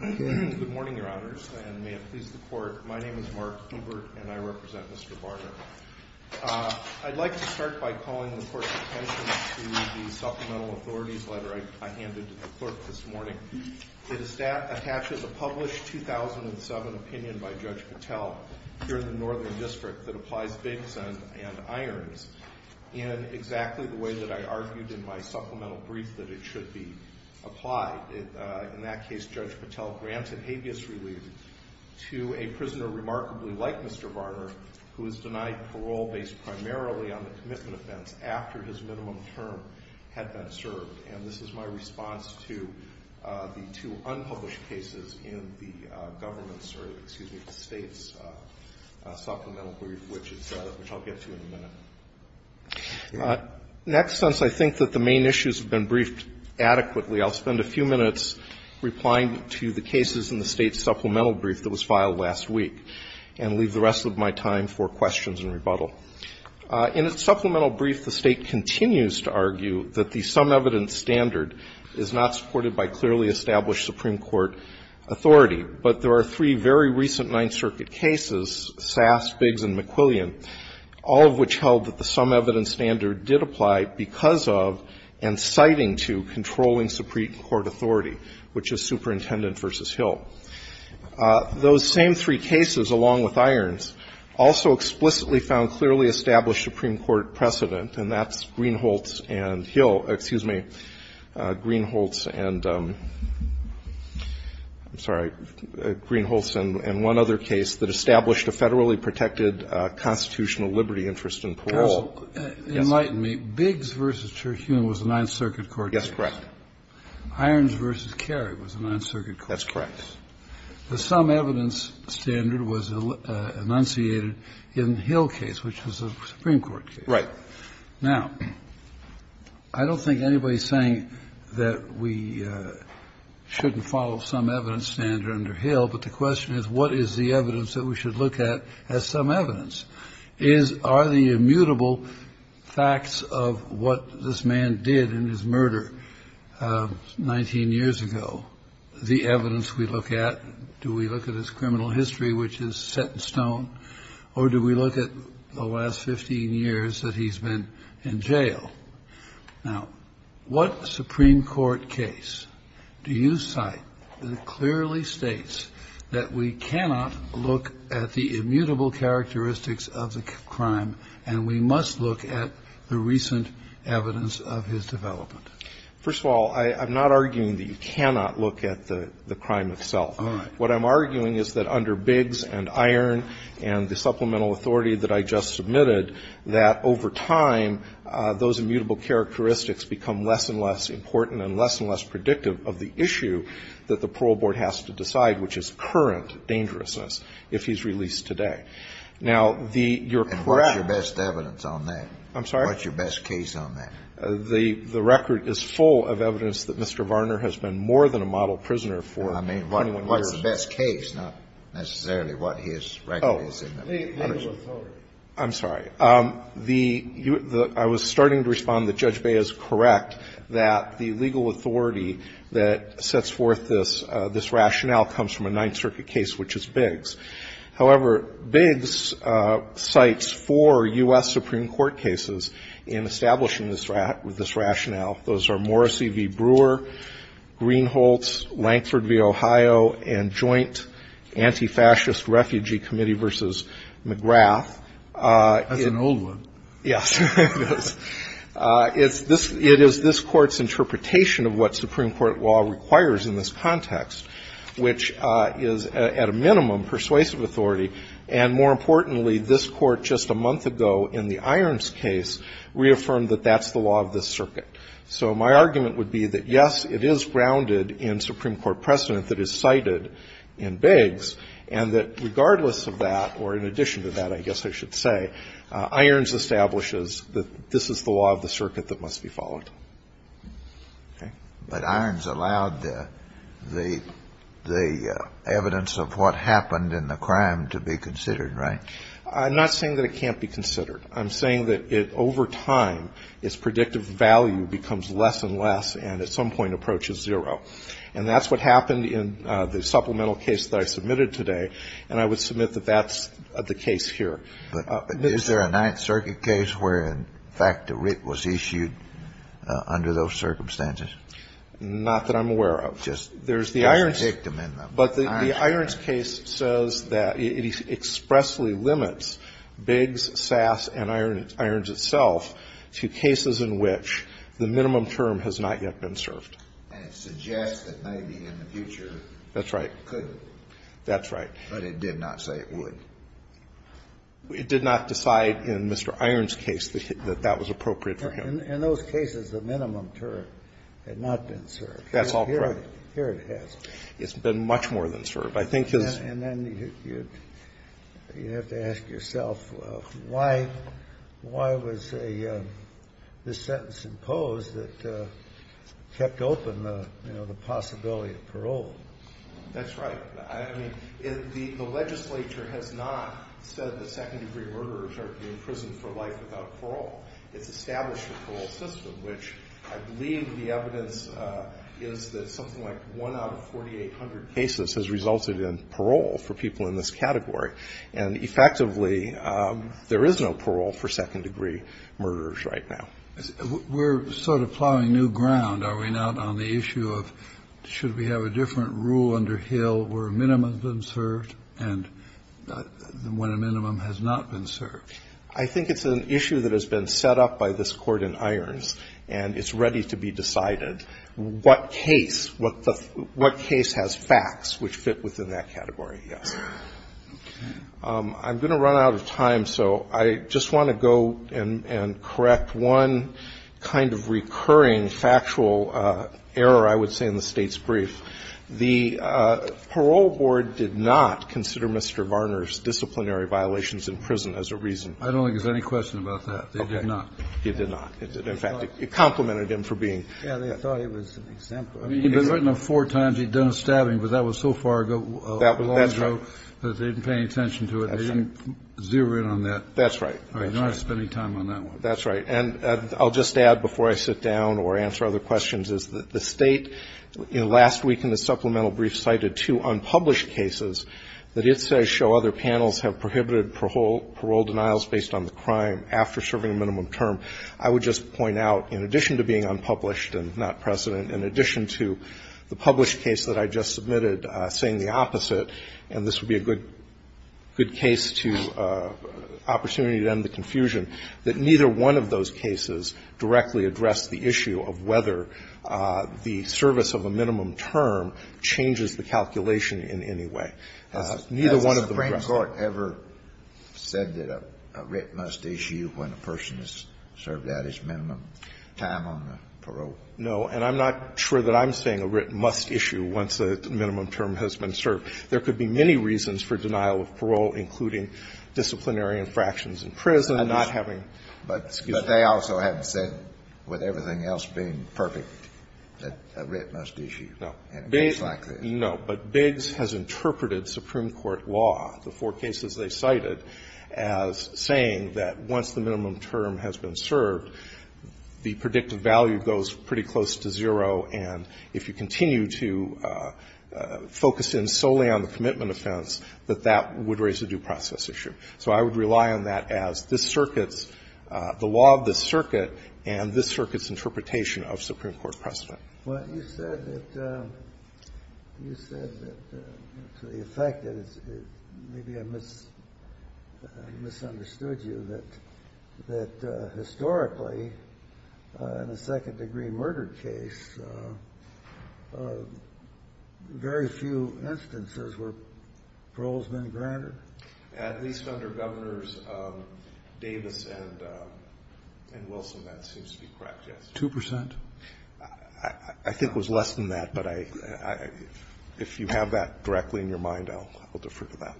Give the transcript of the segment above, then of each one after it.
Good morning, Your Honors, and may it please the Court, my name is Mark Hubert and I represent Mr. Varner. I'd like to start by calling the Court's attention to the Supplemental Authorities Letter I handed to the Clerk this morning. It attaches a published 2007 opinion by Judge Patel here in the Northern District that applies Biggs and Irons in exactly the way that I argued in my supplemental brief that it should be applied. In that case, Judge Patel granted habeas relief to a prisoner remarkably like Mr. Varner who was denied parole based primarily on the commitment offense after his minimum term had been served. And this is my response to the two unpublished cases in the government's, or excuse me, the State's supplemental brief which I'll get to in a minute. Next, since I think that the main issues have been briefed adequately, I'll spend a few minutes replying to the cases in the State's supplemental brief that was filed last week and leave the rest of my time for questions and rebuttal. In its supplemental brief, the State continues to argue that the sum evidence standard is not supported by clearly established Supreme Court authority. But there are three very recent Ninth Circuit cases, Sass, Biggs, and McQuillian, all of which held that the sum evidence standard did apply because of and citing to controlling Supreme Court authority, which is Superintendent v. Hill. Those same three cases, along with Irons, also explicitly found clearly established Supreme Court precedent, and that's Greenholtz and Hill, excuse me, Greenholtz and, I'm sorry, Greenholtz and one other case that established a federally protected constitutional liberty interest in parole. Kennedy. Enlighten me. Biggs v. Terhune was the Ninth Circuit court case. Yes, correct. Irons v. Carey was the Ninth Circuit court case. That's correct. The sum evidence standard was enunciated in the Hill case, which was a Supreme Court case. Right. Now, I don't think anybody is saying that we shouldn't follow sum evidence standard under Hill, but the question is what is the evidence that we should look at as sum evidence? Is are the immutable facts of what this man did in his murder 19 years ago the evidence we look at? Do we look at his criminal history, which is set in stone, or do we look at the last 15 years that he's been in jail? Now, what Supreme Court case do you cite that clearly states that we cannot look at the immutable characteristics of the crime and we must look at the recent evidence of his development? First of all, I'm not arguing that you cannot look at the crime itself. All right. What I'm arguing is that under Biggs and Iron and the supplemental authority that I just submitted, that over time, those immutable characteristics become less and less important and less and less predictive of the issue that the parole board has to decide, which is current dangerousness, if he's released today. Now, the you're correct. And what's your best evidence on that? I'm sorry? What's your best case on that? The record is full of evidence that Mr. Varner has been more than a model prisoner for 21 years. I mean, what's the best case, not necessarily what his record is. Oh. Legal authority. I'm sorry. The you the I was starting to respond that Judge Bey is correct that the legal authority that sets forth this this rationale comes from a Ninth Circuit case, which is Biggs. However, Biggs cites four U.S. Supreme Court cases in establishing this rationale. Those are Morrissey v. Brewer, Greenholtz, Lankford v. Ohio, and joint antifascist refugee committee v. McGrath. That's an old one. Yes, it is. It is this Court's interpretation of what Supreme Court law requires in this context, which is at a minimum persuasive. And more importantly, this Court just a month ago in the Irons case reaffirmed that that's the law of this circuit. So my argument would be that, yes, it is grounded in Supreme Court precedent that is cited in Biggs, and that regardless of that, or in addition to that, I guess I should say, Irons establishes that this is the law of the circuit that must be followed. But Irons allowed the evidence of what happened in the crime to be considered, right? I'm not saying that it can't be considered. I'm saying that it over time, its predictive value becomes less and less and at some point approaches zero. And that's what happened in the supplemental case that I submitted today, and I would submit that that's the case here. But is there a Ninth Circuit case where, in fact, a writ was issued under those circumstances? Not that I'm aware of. Just picked them in the Irons case. But the Irons case says that it expressly limits Biggs, Sass and Irons itself to cases in which the minimum term has not yet been served. And it suggests that maybe in the future it could. That's right. But it did not say it would. It did not decide in Mr. Irons' case that that was appropriate for him. In those cases, the minimum term had not been served. That's all correct. Here it has. It's been much more than served. I think his ---- And then you have to ask yourself why, why was this sentence imposed that kept open the, you know, the possibility of parole? That's right. I mean, the legislature has not said that second-degree murderers are being imprisoned for life without parole. It's established a parole system, which I believe the evidence is that something like one out of 4,800 cases has resulted in parole for people in this category. And, effectively, there is no parole for second-degree murderers right now. We're sort of plowing new ground, are we not, on the issue of should we have a different rule under Hill where a minimum has been served and when a minimum has not been served? I think it's an issue that has been set up by this Court in Irons, and it's ready to be decided what case, what case has facts which fit within that category, yes. Okay. I'm going to run out of time, so I just want to go and correct one kind of recurring factual error, I would say, in the State's brief. The parole board did not consider Mr. Varner's disciplinary violations in prison as a reason. I don't think there's any question about that. Okay. They did not. They did not. In fact, it complimented him for being. Yeah, they thought it was an example. I mean, he'd been written of four times. He'd done a stabbing, but that was so far ago. That's right. That they didn't pay any attention to it. That's right. They didn't zero in on that. That's right. They're not spending time on that one. That's right. And I'll just add before I sit down or answer other questions, is that the State last week in the supplemental brief cited two unpublished cases that it says show other panels have prohibited parole denials based on the crime after serving a minimum term. I would just point out, in addition to being unpublished and not precedent, in addition to the published case that I just submitted saying the opposite, and this would be a good case to opportunity to end the confusion, that neither one of those cases directly addressed the issue of whether the service of a minimum term changes the calculation in any way. Neither one of them addressed it. Has the Supreme Court ever said that a writ must issue when a person has served out his minimum time on parole? No. And I'm not sure that I'm saying a writ must issue once a minimum term has been served. There could be many reasons for denial of parole, including disciplinary infractions in prison, not having the excuse. But they also haven't said, with everything else being perfect, that a writ must issue in a case like this. No. But Biggs has interpreted Supreme Court law, the four cases they cited, as saying that once the minimum term has been served, the predictive value goes pretty close to zero, and if you continue to focus in solely on the commitment offense, that that would raise a due process issue. So I would rely on that as this Circuit's – the law of this Circuit and this Circuit's interpretation of Supreme Court precedent. Well, you said that – you said that to the effect that it's – maybe I misunderstood you, that historically, in a second-degree murder case, very few instances were paroles been granted? At least under Governors Davis and Wilson, that seems to be correct, yes. Two percent? I think it was less than that, but I – if you have that directly in your mind, I'll defer to that.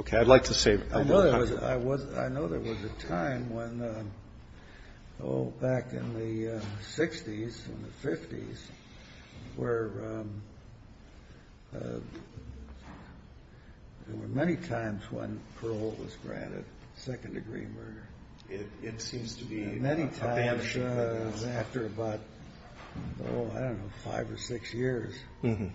Okay. I'd like to say – I know there was – I know there was a time when, oh, back in the 60s and the 50s, where there were many times when parole was granted, second-degree murder. It seems to be – Many times after about, oh, I don't know, five or six years. Mm-hmm.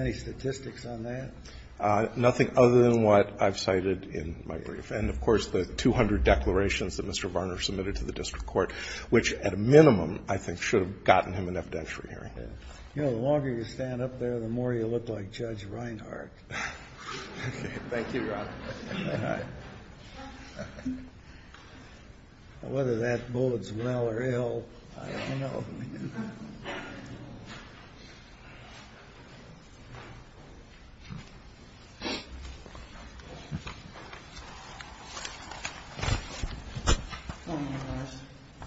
Any statistics on that? Nothing other than what I've cited in my brief. And, of course, the 200 declarations that Mr. Varner submitted to the district court, which at a minimum I think should have gotten him an evidentiary hearing. You know, the longer you stand up there, the more you look like Judge Reinhart. Thank you, Your Honor. Whether that bodes well or ill, I don't know. Thank you, Your Honor.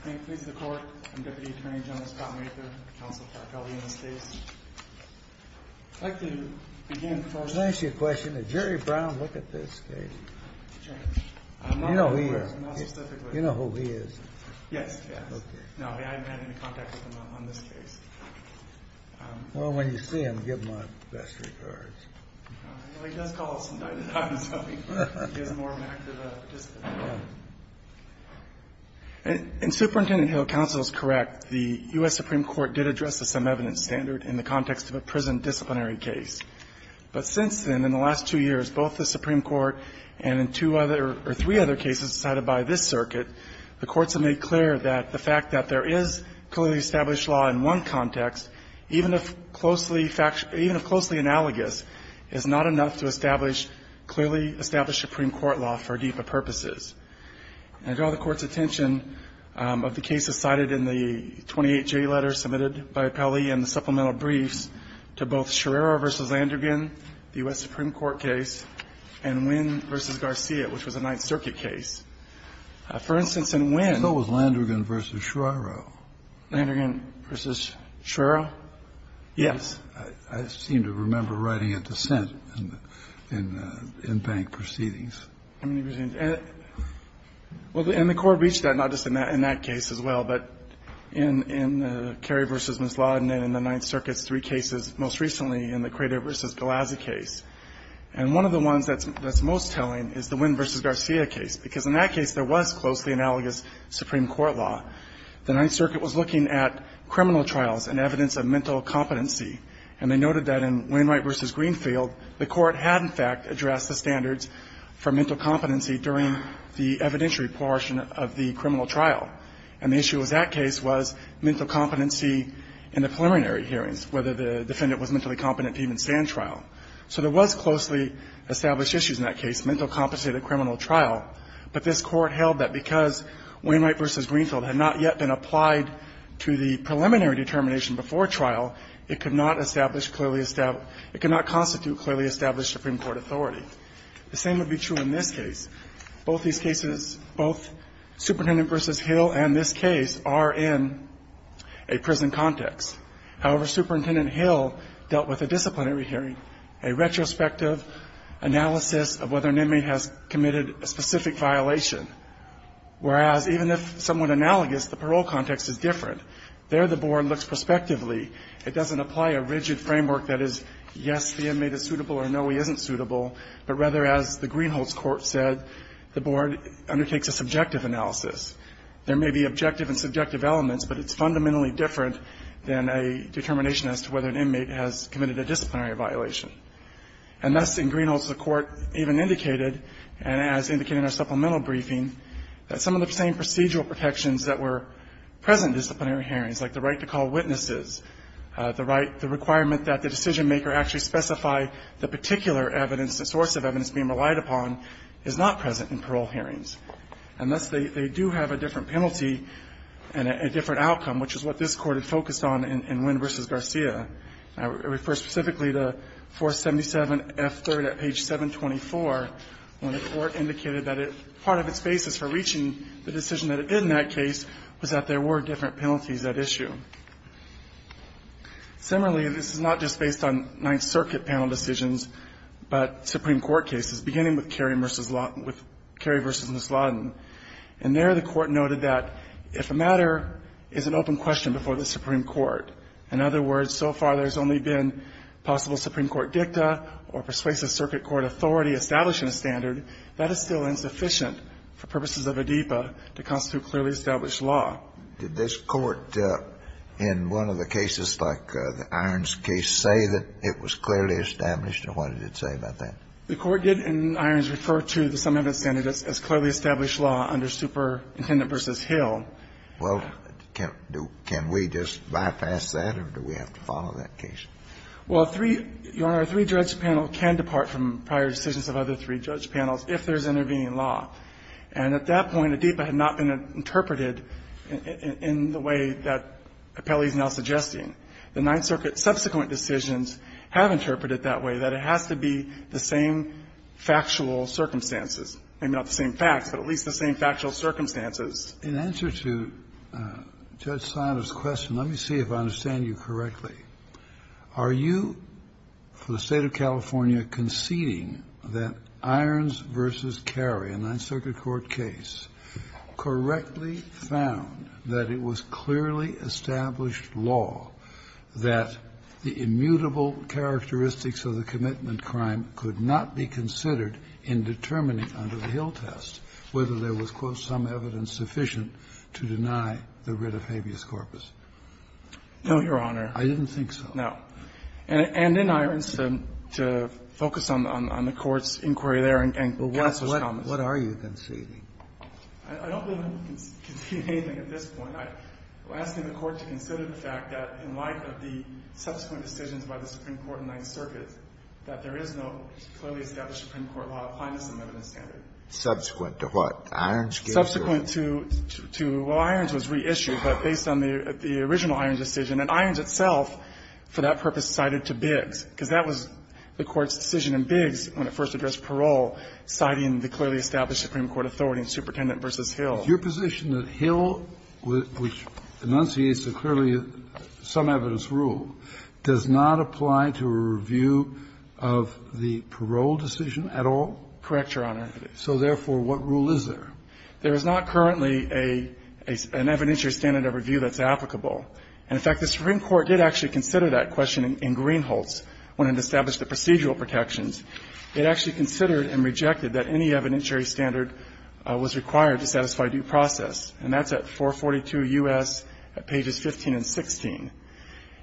May it please the Court, I'm Deputy Attorney General Scott Mather, counsel for Calvino State. I'd like to begin by – Can I ask you a question? Did Jerry Brown look at this case? I'm not aware. You know who he is. I'm not specifically – You know who he is. Yes. Okay. No, I haven't had any contact with him on this case. Well, when you see him, give my best regards. Well, he does call us from time to time, so he gives more of an active participant. Yeah. In Superintendent Hill, counsel is correct. The U.S. Supreme Court did address the sum evidence standard in the context of a prison disciplinary case. But since then, in the last two years, both the Supreme Court and in two other or three other cases cited by this circuit, the courts have made clear that the fact that there is clearly established law in one context, even if closely – even if closely analogous, is not enough to establish clearly established Supreme Court law for DEPA purposes. And I draw the Court's attention of the cases cited in the 28J letter submitted by Appellee and the supplemental briefs to both Sherrera v. Landrigan, the U.S. Supreme Court, and the 9th Circuit case. For instance, in Wynn – So was Landrigan v. Sherrera. Landrigan v. Sherrera? Yes. I seem to remember writing a dissent in Bank Proceedings. Well, and the Court reached that not just in that case as well, but in Kerry v. Ms. Lawden and in the 9th Circuit's three cases, most recently in the Crater v. Galazzi case. And one of the ones that's most telling is the Wynn v. Garcia case, because in that case there was closely analogous Supreme Court law. The 9th Circuit was looking at criminal trials and evidence of mental competency. And they noted that in Wynn – Wright v. Greenfield, the Court had in fact addressed the standards for mental competency during the evidentiary portion of the criminal trial. And the issue with that case was mental competency in the preliminary hearings, whether the defendant was mentally competent to even stand trial. So there was closely established issues in that case, mental competency at a criminal trial, but this Court held that because Wynn – Wright v. Greenfield had not yet been applied to the preliminary determination before trial, it could not establish clearly – it could not constitute clearly established Supreme Court authority. The same would be true in this case. Both these cases, both Superintendent v. Hill and this case are in a prison context. However, Superintendent Hill dealt with a disciplinary hearing, a retrospective analysis of whether an inmate has committed a specific violation. Whereas, even if somewhat analogous, the parole context is different. There the Board looks prospectively. It doesn't apply a rigid framework that is, yes, the inmate is suitable or no, he isn't suitable, but rather, as the Greenholds Court said, the Board undertakes a subjective analysis. There may be objective and subjective elements, but it's fundamentally different than a determination as to whether an inmate has committed a disciplinary violation. And thus, in Greenholds, the Court even indicated, and as indicated in our supplemental briefing, that some of the same procedural protections that were present in disciplinary hearings, like the right to call witnesses, the right – the requirement that the decisionmaker actually specify the particular evidence, the source of evidence being relied upon, is not present in parole hearings. And thus, they do have a different penalty and a different outcome, which is what this Court had focused on in Wynn v. Garcia. It refers specifically to 477F3rd at page 724, when the Court indicated that part of its basis for reaching the decision that it did in that case was that there were different penalties at issue. Similarly, this is not just based on Ninth Circuit panel decisions, but Supreme Court cases, beginning with Kerry v. Ms. Lawton. And there, the Court noted that if a matter is an open question before the Supreme Court, in other words, so far there's only been possible Supreme Court dicta or persuasive circuit court authority establishing a standard, that is still insufficient for purposes of ADEPA to constitute clearly established law. Did this Court, in one of the cases like the Irons case, say that it was clearly established, and what did it say about that? The Court did, in Irons, refer to the sum of its standards as clearly established law under Superintendent v. Hill. Well, can we just bypass that, or do we have to follow that case? Well, three, Your Honor, a three-judge panel can depart from prior decisions of other three-judge panels if there's intervening law. And at that point, ADEPA had not been interpreted in the way that Appelli is now suggesting. The Ninth Circuit subsequent decisions have interpreted that way, that it has to be the same factual circumstances. Maybe not the same facts, but at least the same factual circumstances. In answer to Judge Silas' question, let me see if I understand you correctly. Are you, for the State of California, conceding that Irons v. Carey, a Ninth Circuit court case, correctly found that it was clearly established law that the immutable characteristics of the commitment crime could not be considered in determining under the Hill test whether there was, quote, some evidence sufficient to deny the writ of habeas corpus? No, Your Honor. I didn't think so. No. And in Irons, to focus on the Court's inquiry there and counsel's comments. What are you conceding? I don't believe I'm conceding anything at this point. I'm asking the Court to consider the fact that in light of the subsequent decisions by the Supreme Court in the Ninth Circuit, that there is no clearly established Supreme Court law applying to some evidence standard. Subsequent to what? Irons gave you a? Subsequent to, well, Irons was reissued, but based on the original Irons decision. And Irons itself, for that purpose, cited to Biggs, because that was the Court's decision in Biggs when it first addressed parole, citing the clearly established Supreme Court authority in Superintendent v. Hill. Your position that Hill, which enunciates the clearly some evidence rule, does not apply to a review of the parole decision at all? Correct, Your Honor. So therefore, what rule is there? There is not currently an evidentiary standard of review that's applicable. And in fact, the Supreme Court did actually consider that question in Greenholz when it established the procedural protections. It actually considered and rejected that any evidentiary standard was required to satisfy due process, and that's at 442 U.S., pages 15 and 16.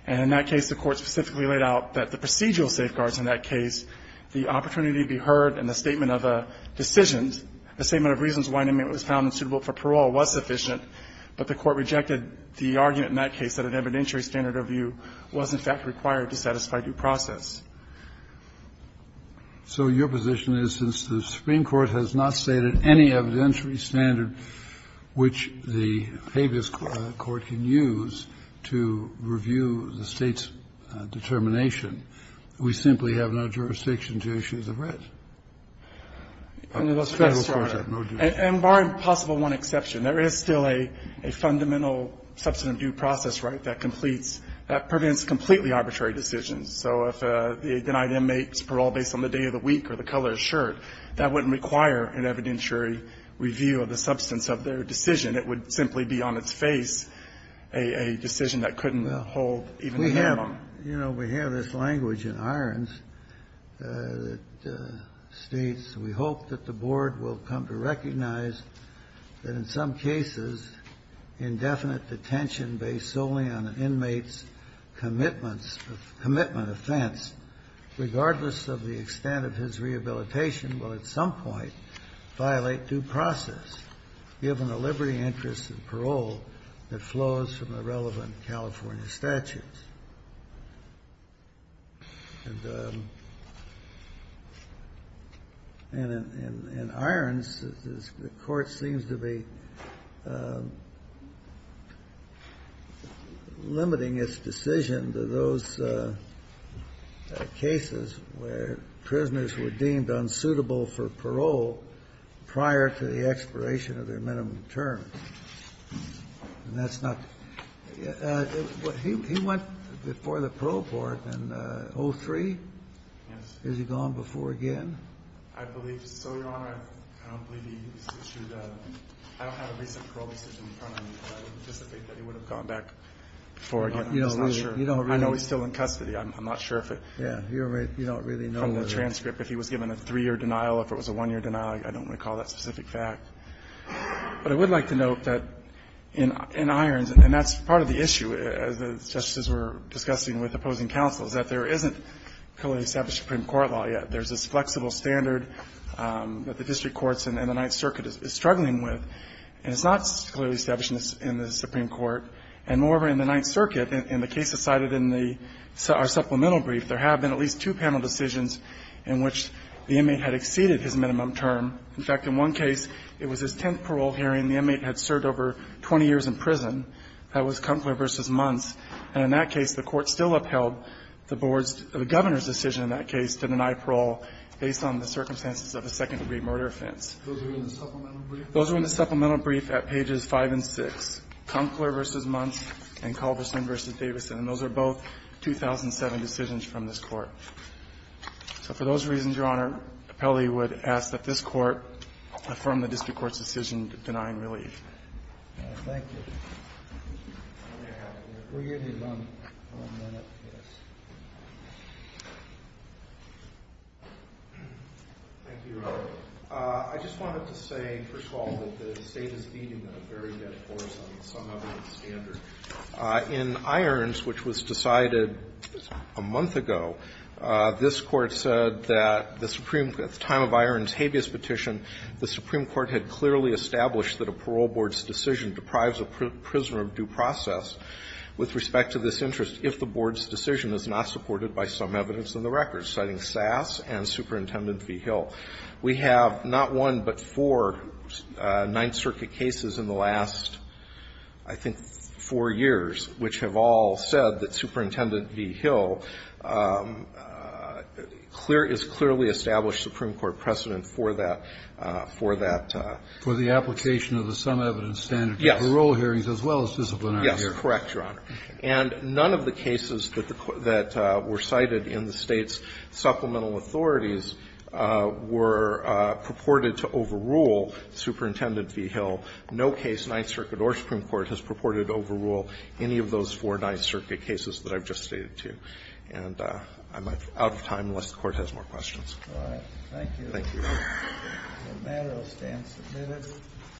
And in that case, the Court specifically laid out that the procedural safeguards in that case, the opportunity to be heard and the statement of a decision, the statement of reasons why an inmate was found unsuitable for parole was sufficient, but the Court rejected the argument in that case that an evidentiary standard of review was, in fact, required to satisfy due process. So your position is, since the Supreme Court has not stated any evidentiary standard which the habeas court can use to review the State's determination, we simply have no jurisdiction to issue the red. Federal courts have no jurisdiction. And bar impossible one exception, there is still a fundamental substantive due process right that completes, that prevents completely arbitrary decisions. So if the denied inmate's parole based on the day of the week or the color of his shirt, that wouldn't require an evidentiary review of the substance of their decision. It would simply be on its face a decision that couldn't hold even a minimum. We have, you know, we have this language in Irons that states, we hope that the board will come to recognize that in some cases indefinite detention based solely on an inmate's commitment offense, regardless of the extent of his rehabilitation, will at some point violate due process, given the liberty, interest, and parole that flows from the relevant California statutes. And in Irons, the Court seems to be limiting its decision on the extent to which the inmate's commitment offense violates due process. And in those cases where prisoners were deemed unsuitable for parole prior to the expiration of their minimum terms, and that's not the case. He went before the Parole Board in 03? Yes. I believe so, Your Honor. I don't believe he issued a – I don't have a recent parole decision in front of me, but I would anticipate that he would have gone back before. I'm just not sure. I know he's still in custody. I'm not sure if it – Yeah. You don't really know. From the transcript, if he was given a three-year denial, if it was a one-year denial, I don't recall that specific fact. But I would like to note that in Irons, and that's part of the issue, as the Justices were discussing with opposing counsel, is that there isn't currently established Supreme Court law yet. There's this flexible standard that the district courts and the Ninth Circuit is struggling with. And it's not clearly established in the Supreme Court. And moreover, in the Ninth Circuit, in the cases cited in the – our supplemental brief, there have been at least two panel decisions in which the inmate had exceeded his minimum term. In fact, in one case, it was his tenth parole hearing. The inmate had served over 20 years in prison. That was Kumfler v. Munz. And in that case, the Court still upheld the Board's – the Governor's decision in that case to deny parole based on the circumstances of a second-degree murder offense. Those are in the supplemental brief? Those are in the supplemental brief at pages 5 and 6, Kumfler v. Munz and Culverson v. Davidson. And those are both 2007 decisions from this Court. So for those reasons, Your Honor, Appellee would ask that this Court affirm the district court's decision denying relief. Thank you. Roberts. Thank you, Your Honor. I just wanted to say, first of all, that the State is feeding a very dead horse on some other standard. In Irons, which was decided a month ago, this Court said that the Supreme – at the time of Irons' habeas petition, the Supreme Court had clearly established that a parole board's decision deprives a prisoner of due process with respect to this interest if the board's decision is not supported by some evidence in the records, citing Sass and Superintendent v. Hill. We have not one but four Ninth Circuit cases in the last, I think, four years, which have all said that Superintendent v. Hill is clearly established Supreme Court's decision deprives a prisoner of due process with respect to this interest if the board's decision is not supported by some evidence in the records, citing Sass and Superintendent v. Hill. We have not one but four Ninth Circuit cases in the last, I think, four years, which have all said that Superintendent v. Hill is clearly established Supreme Court's decision is not supported by some evidence in the records, citing Sass and Superintendent